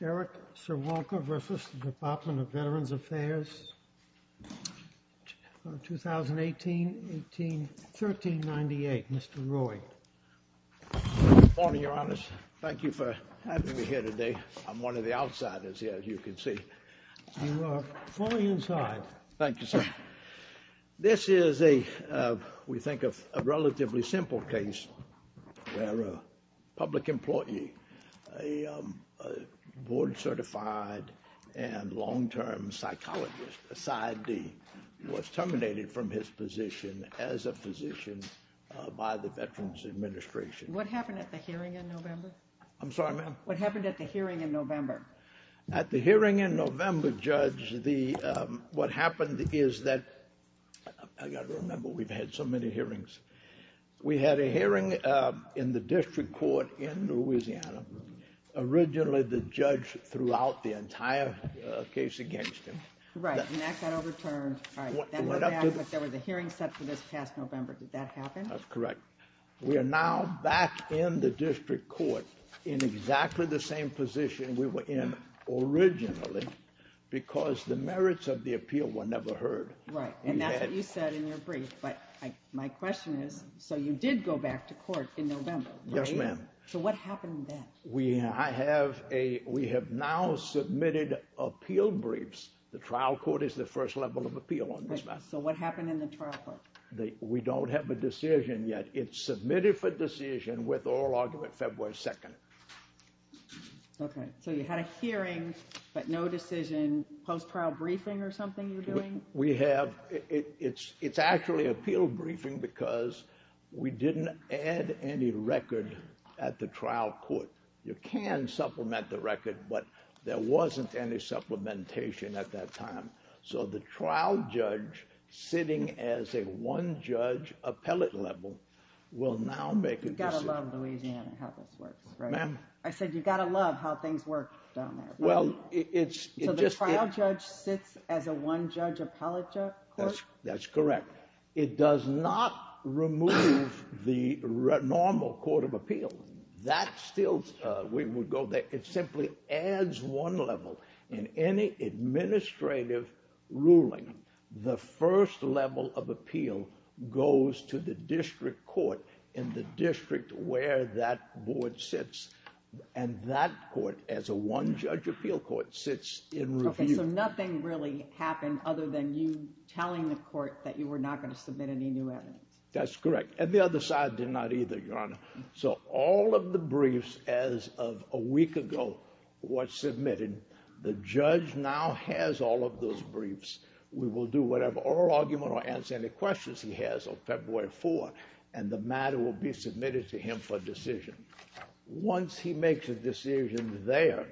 Eric Sirwonka v. Department of Veterans Affairs, 2018-1398. Mr. Roy. Good morning, Your Honors. Thank you for having me here today. I'm one of the outsiders here, as you can see. You are fully inside. Thank you, sir. This is a, we think, a relatively simple case where a public employee, a board-certified and long-term psychologist, a PsyD, was terminated from his position as a physician by the Veterans Administration. What happened at the hearing in November? I'm sorry, ma'am? At the hearing in November, Judge, what happened is that, I've got to remember, we've had so many hearings. We had a hearing in the district court in Louisiana. Originally, the judge threw out the entire case against him. Right, and that got overturned. What happened? There was a hearing set for this past November. Did that happen? That's correct. We are now back in the district court in exactly the same position we were in originally because the merits of the appeal were never heard. Right, and that's what you said in your brief, but my question is, so you did go back to court in November, right? Yes, ma'am. So what happened then? We have now submitted appeal briefs. The trial court is the first level of appeal on this matter. So what happened in the trial court? We don't have a decision yet. It's submitted for decision with oral argument February 2nd. Okay, so you had a hearing, but no decision, post-trial briefing or something you're doing? We have, it's actually appeal briefing because we didn't add any record at the trial court. You can supplement the record, but there wasn't any supplementation at that time. So the trial judge sitting as a one-judge appellate level will now make a decision. You've got to love Louisiana and how this works, right? Ma'am? I said you've got to love how things work down there. So the trial judge sits as a one-judge appellate court? That's correct. It does not remove the normal court of appeal. It simply adds one level in any administrative ruling. The first level of appeal goes to the district court in the district where that board sits. And that court, as a one-judge appeal court, sits in review. Okay, so nothing really happened other than you telling the court that you were not going to submit any new evidence. That's correct, and the other side did not either, Your Honor. So all of the briefs as of a week ago were submitted. The judge now has all of those briefs. We will do whatever oral argument or answer any questions he has on February 4th, and the matter will be submitted to him for decision. Once he makes a decision there,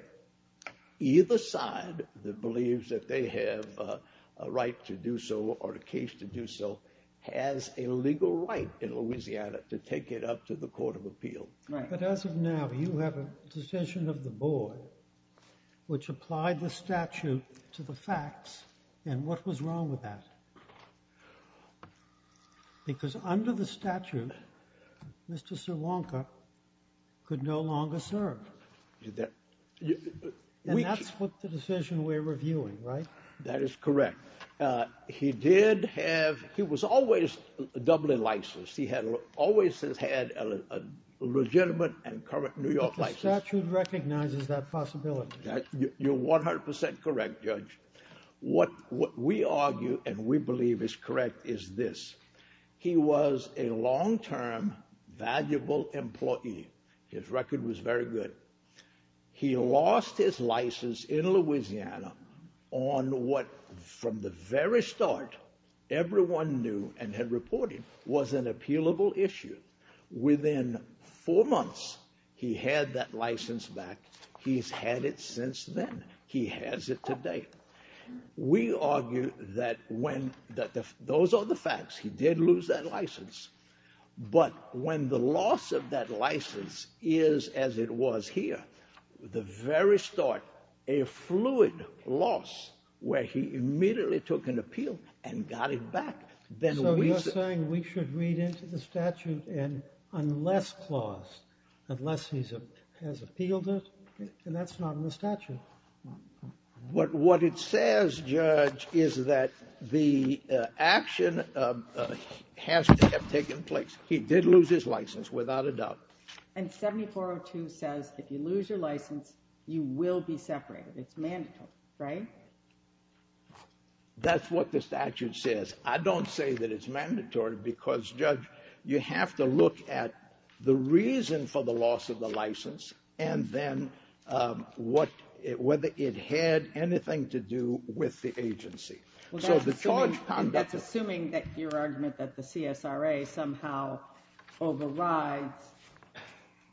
either side that believes that they have a right to do so or a case to do so has a legal right in Louisiana to take it up to the court of appeal. But as of now, you have a decision of the board which applied the statute to the facts. And what was wrong with that? Because under the statute, Mr. Sawanka could no longer serve. And that's what the decision we're reviewing, right? That is correct. He did have—he was always a Dublin license. He always has had a legitimate and current New York license. But the statute recognizes that possibility. You're 100% correct, Judge. What we argue and we believe is correct is this. He was a long-term, valuable employee. His record was very good. He lost his license in Louisiana on what, from the very start, everyone knew and had reported was an appealable issue. Within four months, he had that license back. He's had it since then. He has it today. We argue that when—those are the facts. He did lose that license. But when the loss of that license is, as it was here, the very start, a fluid loss where he immediately took an appeal and got it back, then we— So you're saying we should read into the statute and unless clause, unless he has appealed it, and that's not in the statute. What it says, Judge, is that the action has to have taken place. He did lose his license, without a doubt. And 7402 says if you lose your license, you will be separated. It's mandatory, right? That's what the statute says. I don't say that it's mandatory because, Judge, you have to look at the reason for the loss of the license and then whether it had anything to do with the agency. So the charge— That's assuming that your argument that the CSRA somehow overrides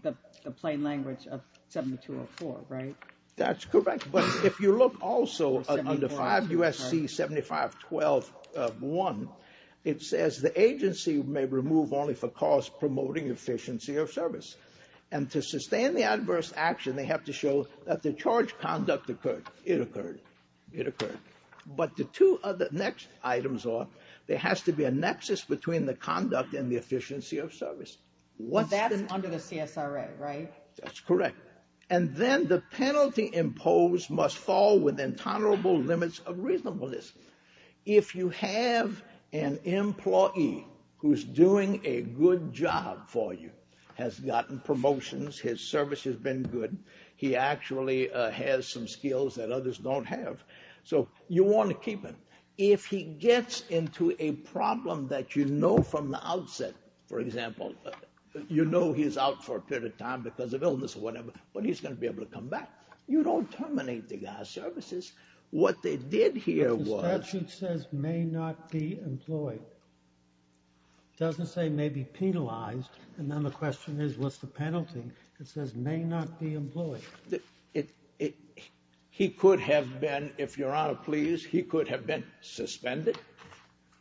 the plain language of 7204, right? That's correct. But if you look also under 5 U.S.C. 7512.1, it says the agency may remove only for cause promoting efficiency of service. And to sustain the adverse action, they have to show that the charge conduct occurred. It occurred. It occurred. But the two other next items are there has to be a nexus between the conduct and the efficiency of service. That's under the CSRA, right? That's correct. And then the penalty imposed must fall within tolerable limits of reasonableness. If you have an employee who's doing a good job for you, has gotten promotions, his service has been good, he actually has some skills that others don't have, so you want to keep him. If he gets into a problem that you know from the outset, for example, you know he's out for a period of time because of illness or whatever, but he's going to be able to come back, you don't terminate the guy's services. What they did here was... But the statute says may not be employed. It doesn't say may be penalized. And then the question is what's the penalty? It says may not be employed. He could have been, if Your Honor please, he could have been suspended.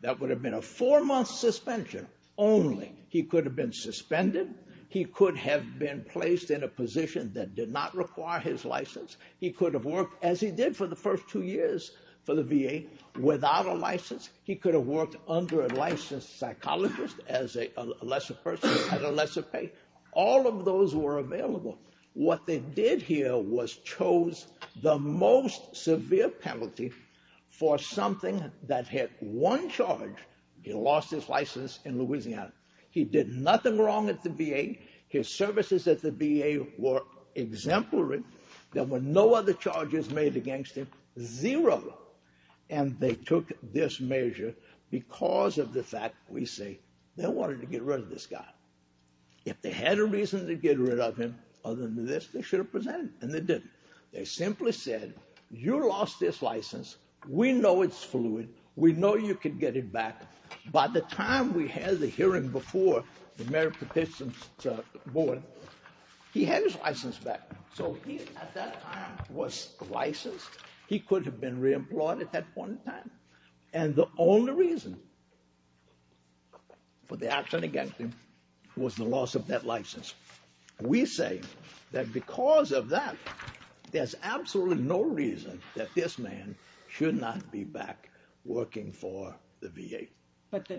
That would have been a four-month suspension only. He could have been suspended. He could have been placed in a position that did not require his license. He could have worked, as he did for the first two years for the VA, without a license. He could have worked under a licensed psychologist as a lesser person at a lesser pay. All of those were available. What they did here was chose the most severe penalty for something that had one charge. He lost his license in Louisiana. He did nothing wrong at the VA. His services at the VA were exemplary. There were no other charges made against him. Zero. And they took this measure because of the fact, we say, they wanted to get rid of this guy. If they had a reason to get rid of him other than this, they should have presented it, and they didn't. They simply said, you lost this license. We know it's fluid. We know you can get it back. By the time we had the hearing before the American Patients Board, he had his license back. So he, at that time, was licensed. He could have been reemployed at that point in time. And the only reason for the action against him was the loss of that license. We say that because of that, there's absolutely no reason that this man should not be back working for the VA. But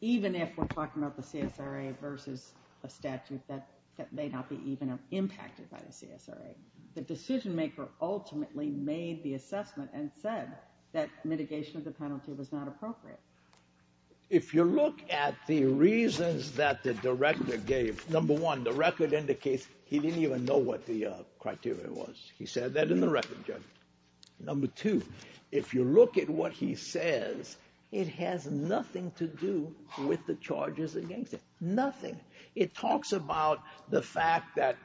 even if we're talking about the CSRA versus a statute that may not be even impacted by the CSRA, the decision-maker ultimately made the assessment and said that mitigation of the penalty was not appropriate. If you look at the reasons that the director gave, number one, the record indicates he didn't even know what the criteria was. He said that in the record, Judge. Number two, if you look at what he says, it has nothing to do with the charges against him. Nothing. It talks about the fact that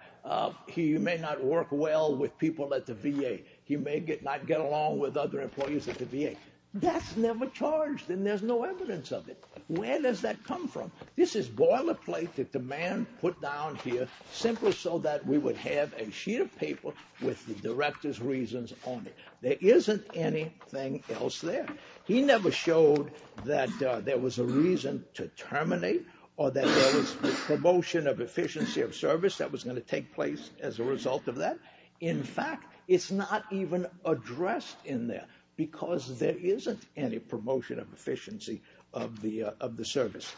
he may not work well with people at the VA. He may not get along with other employees at the VA. That's never charged, and there's no evidence of it. Where does that come from? This is boilerplate that the man put down here simply so that we would have a sheet of paper with the director's reasons on it. There isn't anything else there. He never showed that there was a reason to terminate or that there was a promotion of efficiency of service that was going to take place as a result of that. In fact, it's not even addressed in there because there isn't any promotion of efficiency of the service.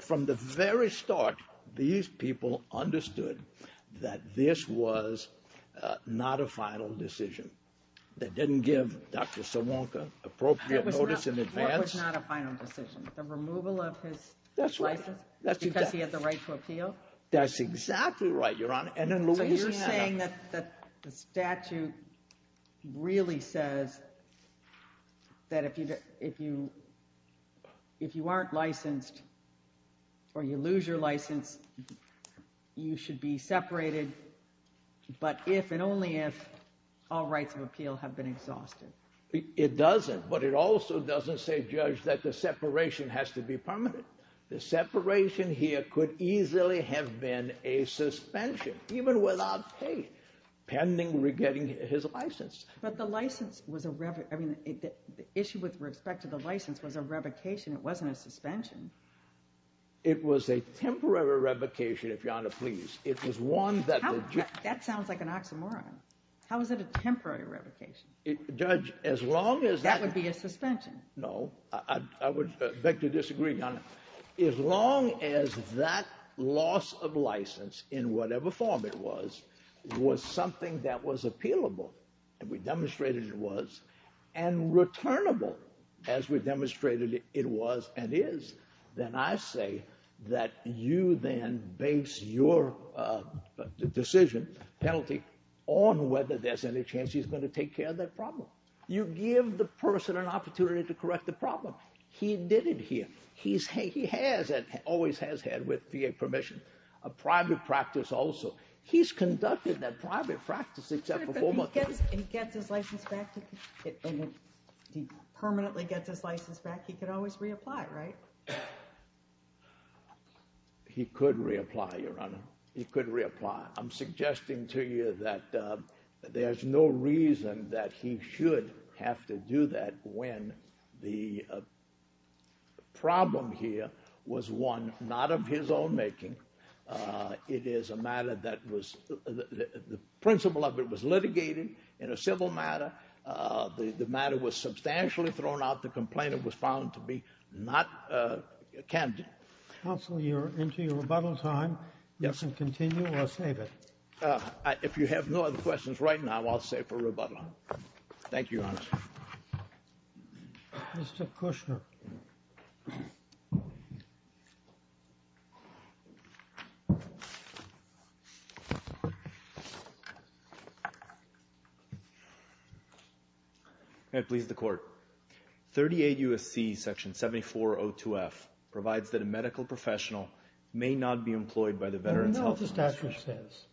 From the very start, these people understood that this was not a final decision. They didn't give Dr. Sawanka appropriate notice in advance. It was not a final decision, the removal of his license? That's right. Because he had the right to appeal? That's exactly right, Your Honor. So you're saying that the statute really says that if you aren't licensed or you lose your license, you should be separated, but if and only if all rights of appeal have been exhausted. It doesn't, but it also doesn't say, Judge, that the separation has to be permanent. The separation here could easily have been a suspension, even without, hey, pending getting his license. But the license was a revocation. The issue with respect to the license was a revocation. It wasn't a suspension. It was a temporary revocation, if Your Honor please. It was one that... That sounds like an oxymoron. How is it a temporary revocation? Judge, as long as... That would be a suspension. No, I would beg to disagree, Your Honor. As long as that loss of license, in whatever form it was, was something that was appealable, and we demonstrated it was, and returnable, as we demonstrated it was and is, then I say that you then base your decision, penalty, on whether there's any chance he's going to take care of that problem. You give the person an opportunity to correct the problem. He did it here. He has and always has had, with VA permission, a private practice also. He's conducted that private practice except for four months. If he gets his license back, if he permanently gets his license back, he could always reapply, right? He could reapply, Your Honor. He could reapply. I'm suggesting to you that there's no reason that he should have to do that when the problem here was, one, not of his own making. It is a matter that was, the principle of it was litigated in a civil matter. The matter was substantially thrown out. The complainant was found to be not candid. Counsel, you're into your rebuttal time. Yes. You can continue or save it. If you have no other questions right now, I'll save for rebuttal. Thank you, Your Honor. Mr. Kushner. Please. May it please the Court. 38 U.S.C. Section 7402F provides that a medical professional may not be employed by the Veterans Health Commission. I know what the statute says,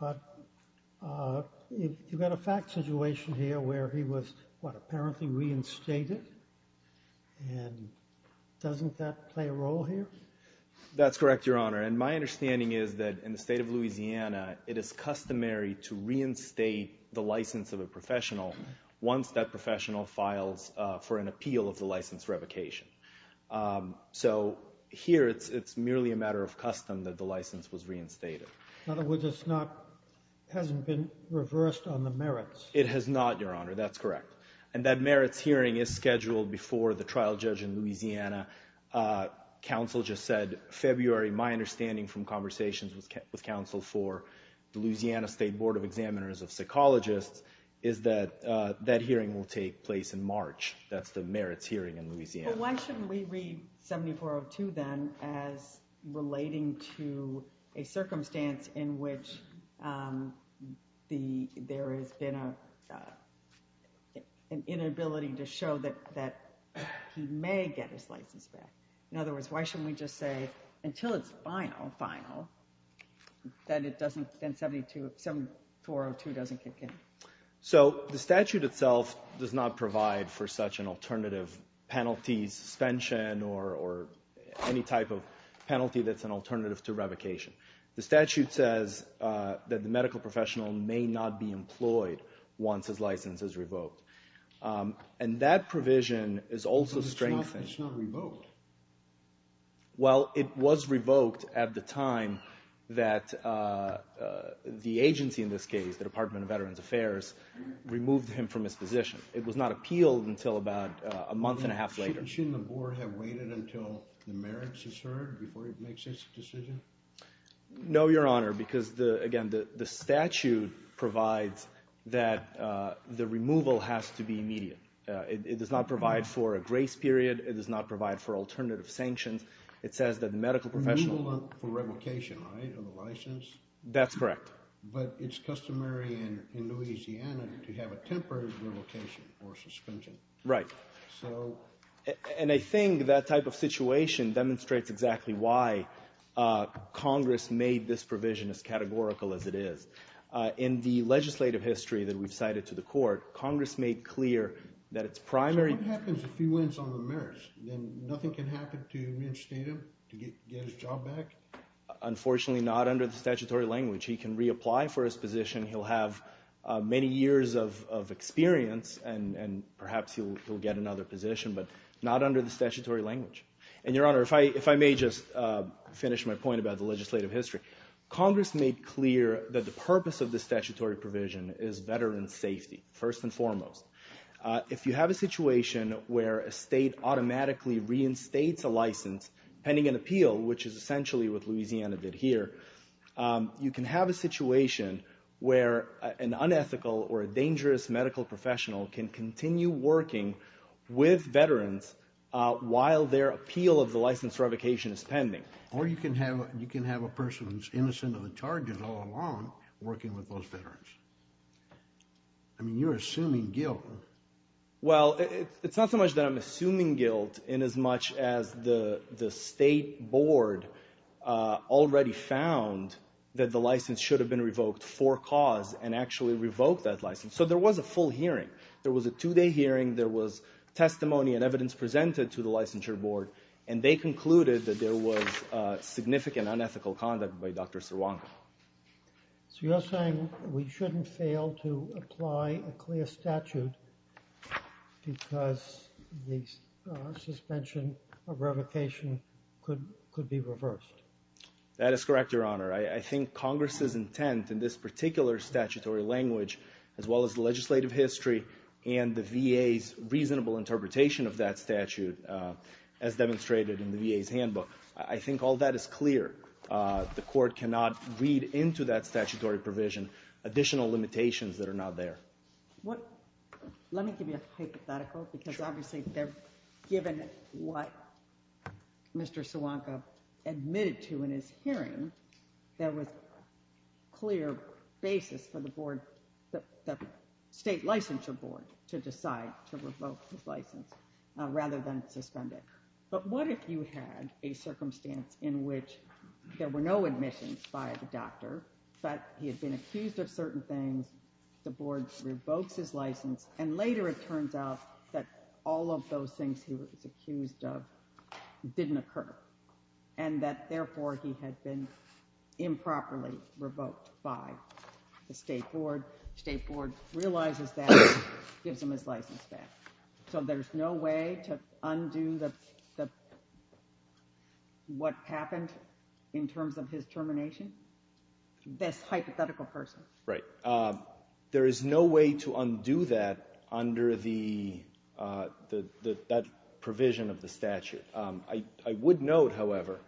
but you've got a fact situation here where he was, what, apparently reinstated, and doesn't that play a role here? That's correct, Your Honor. And my understanding is that in the state of Louisiana, it is customary to reinstate the license of a professional once that professional files for an appeal of the license revocation. So here it's merely a matter of custom that the license was reinstated. In other words, it's not, hasn't been reversed on the merits. It has not, Your Honor, that's correct. And that merits hearing is scheduled before the trial judge in Louisiana, counsel just said February. My understanding from conversations with counsel for the Louisiana State Board of Examiners of Psychologists is that that hearing will take place in March. That's the merits hearing in Louisiana. Well, why shouldn't we read 7402 then as relating to a circumstance in which there has been an inability to show that he may get his license back? In other words, why shouldn't we just say until it's final, final, that it doesn't, then 7402 doesn't kick in? So the statute itself does not provide for such an alternative penalty suspension or any type of penalty that's an alternative to revocation. The statute says that the medical professional may not be employed once his license is revoked. And that provision is also strengthened. But it's not revoked. Well, it was revoked at the time that the agency in this case, the Department of Veterans Affairs, removed him from his position. It was not appealed until about a month and a half later. Shouldn't the board have waited until the merits is heard before it makes its decision? No, Your Honor, because, again, the statute provides that the removal has to be immediate. It does not provide for a grace period. It does not provide for alternative sanctions. It says that the medical professional... Removal for revocation, right, of a license? That's correct. But it's customary in Louisiana to have a temporary revocation or suspension. Right. So... And I think that type of situation demonstrates exactly why Congress made this provision as categorical as it is. In the legislative history that we've cited to the court, Congress made clear that its primary... So what happens if he wins on the merits? Then nothing can happen to reinstate him, to get his job back? Unfortunately, not under the statutory language. He can reapply for his position. He'll have many years of experience, and perhaps he'll get another position, but not under the statutory language. And, Your Honor, if I may just finish my point about the legislative history. Congress made clear that the purpose of the statutory provision is veterans' safety, first and foremost. If you have a situation where a state automatically reinstates a license pending an appeal, which is essentially what Louisiana did here, you can have a situation where an unethical or a dangerous medical professional can continue working with veterans while their appeal of the license revocation is pending. Or you can have a person who's innocent of the charges all along working with those veterans. I mean, you're assuming guilt. Well, it's not so much that I'm assuming guilt in as much as the state board already found that the license should have been revoked for cause and actually revoked that license. So there was a full hearing. There was a two-day hearing. There was testimony and evidence presented to the licensure board, and they concluded that there was significant unethical conduct by Dr. Sirwanka. So you're saying we shouldn't fail to apply a clear statute because the suspension of revocation could be reversed? That is correct, Your Honor. I think Congress's intent in this particular statutory language, as well as the legislative history and the VA's reasonable interpretation of that statute as demonstrated in the VA's handbook, I think all that is clear. The court cannot read into that statutory provision additional limitations that are not there. Let me give you a hypothetical because obviously given what Mr. Sirwanka admitted to in his hearing, there was a clear basis for the board, the state licensure board, to decide to revoke his license rather than suspend it. But what if you had a circumstance in which there were no admissions by the doctor, but he had been accused of certain things, the board revokes his license, and later it turns out that all of those things he was accused of didn't occur and that therefore he had been improperly revoked by the state board. The state board realizes that and gives him his license back. So there's no way to undo what happened in terms of his termination? This hypothetical person. Right. There is no way to undo that under that provision of the statute. I would note, however,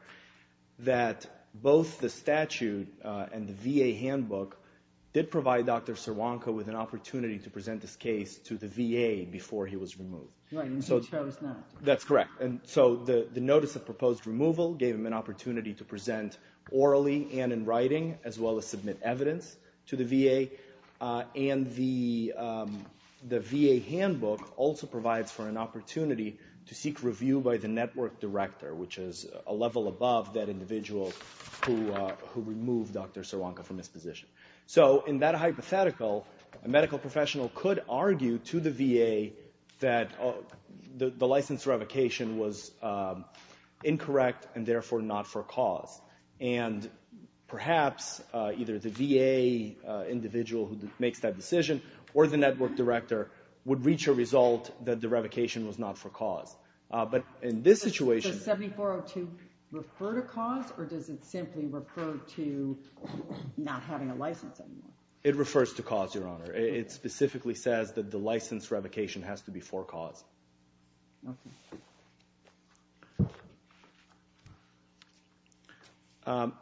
that both the statute and the VA handbook did provide Dr. Sirwanka with an opportunity to present his case to the VA before he was removed. Right, and he chose not. That's correct. So the notice of proposed removal gave him an opportunity to present orally and in writing, as well as submit evidence to the VA. And the VA handbook also provides for an opportunity to seek review by the network director, which is a level above that individual who removed Dr. Sirwanka from his position. So in that hypothetical, a medical professional could argue to the VA that the license revocation was incorrect and therefore not for cause. And perhaps either the VA individual who makes that decision or the network director would reach a result that the revocation was not for cause. But in this situation... Does 7402 refer to cause or does it simply refer to not having a license anymore? It refers to cause, Your Honor. It specifically says that the license revocation has to be for cause. Okay.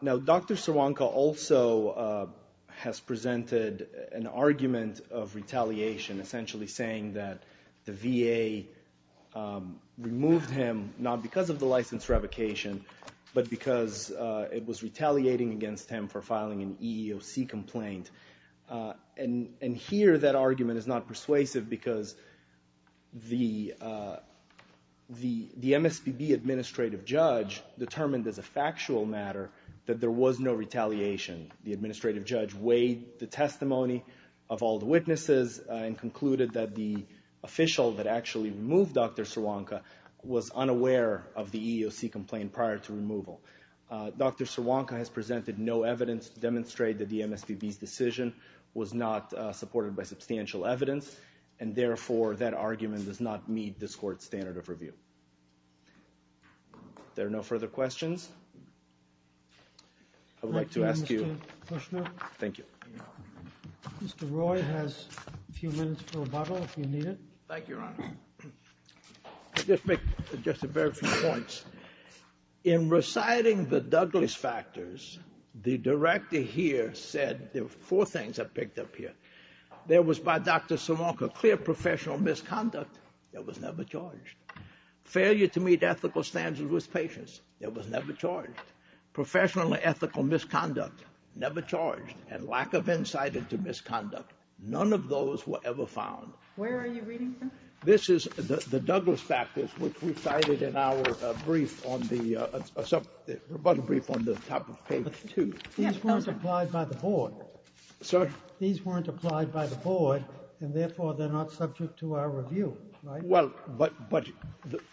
Now, Dr. Sirwanka also has presented an argument of retaliation, essentially saying that the VA removed him not because of the license revocation, but because it was retaliating against him for filing an EEOC complaint. And here that argument is not persuasive because the MSPB administrative judge determined as a factual matter that there was no retaliation. The administrative judge weighed the testimony of all the witnesses and concluded that the official that actually removed Dr. Sirwanka was unaware of the EEOC complaint prior to removal. Dr. Sirwanka has presented no evidence to demonstrate that the MSPB's decision was not supported by substantial evidence and therefore that argument does not meet this court's standard of review. There are no further questions. I would like to ask you... Thank you, Mr. Kushner. Thank you. Mr. Roy has a few minutes for rebuttal if you need it. Thank you, Your Honor. Just a very few points. In reciting the Douglas factors, the director here said... There were four things I picked up here. There was, by Dr. Sirwanka, clear professional misconduct that was never charged. Failure to meet ethical standards with patients that was never charged. Professionally ethical misconduct, never charged. And lack of insight into misconduct. None of those were ever found. Where are you reading from? This is the Douglas factors which we cited in our brief on the... rebuttal brief on the top of page 2. These weren't applied by the board. Sir? These weren't applied by the board and therefore they're not subject to our review, right? Well, but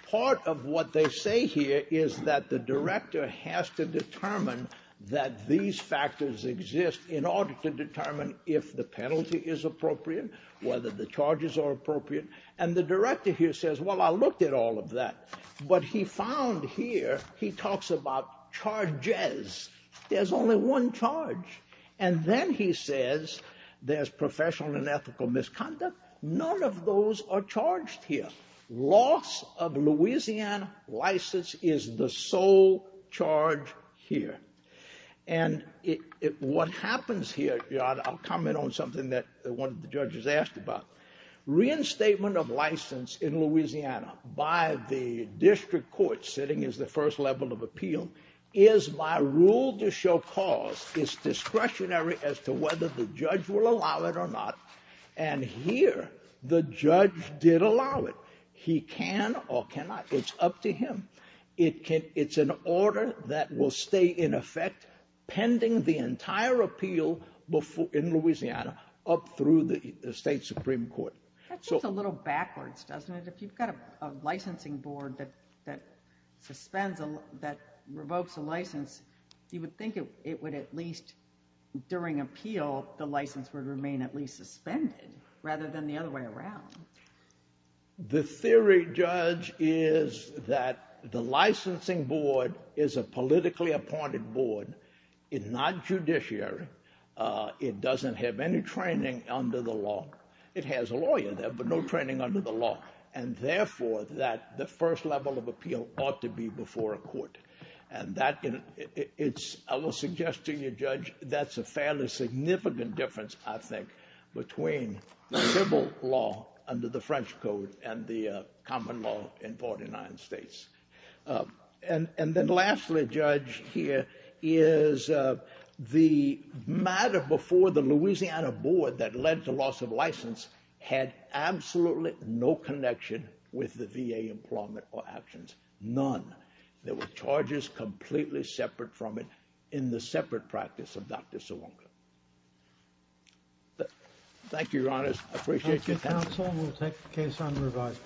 part of what they say here is that the director has to determine that these factors exist in order to determine if the penalty is appropriate, whether the charges are appropriate. And the director here says, well, I looked at all of that. What he found here, he talks about charges. There's only one charge. And then he says, there's professional and ethical misconduct. None of those are charged here. Loss of Louisiana license is the sole charge here. And what happens here... I'll comment on something that one of the judges asked about. Reinstatement of license in Louisiana by the district court sitting as the first level of appeal is by rule to show cause. It's discretionary as to whether the judge will allow it or not. And here, the judge did allow it. He can or cannot. It's up to him. It's an order that will stay in effect pending the entire appeal in Louisiana up through the state supreme court. That's just a little backwards, doesn't it? If you've got a licensing board that revokes a license, you would think it would at least, during appeal, the license would remain at least suspended rather than the other way around. The theory, Judge, is that the licensing board is a politically appointed board. It's not judiciary. It doesn't have any training under the law. It has a lawyer there, but no training under the law. And therefore, the first level of appeal ought to be before a court. And I will suggest to you, Judge, that's a fairly significant difference, I think, between civil law under the French Code and the common law in 49 states. And then lastly, Judge, here is the matter before the Louisiana board that led to loss of license had absolutely no connection with the VA employment or actions. None. There were charges completely separate from it in the separate practice of Dr. Sawonga. Thank you, Your Honors. I appreciate your time. Thank you, Counsel. We'll take the case on revising.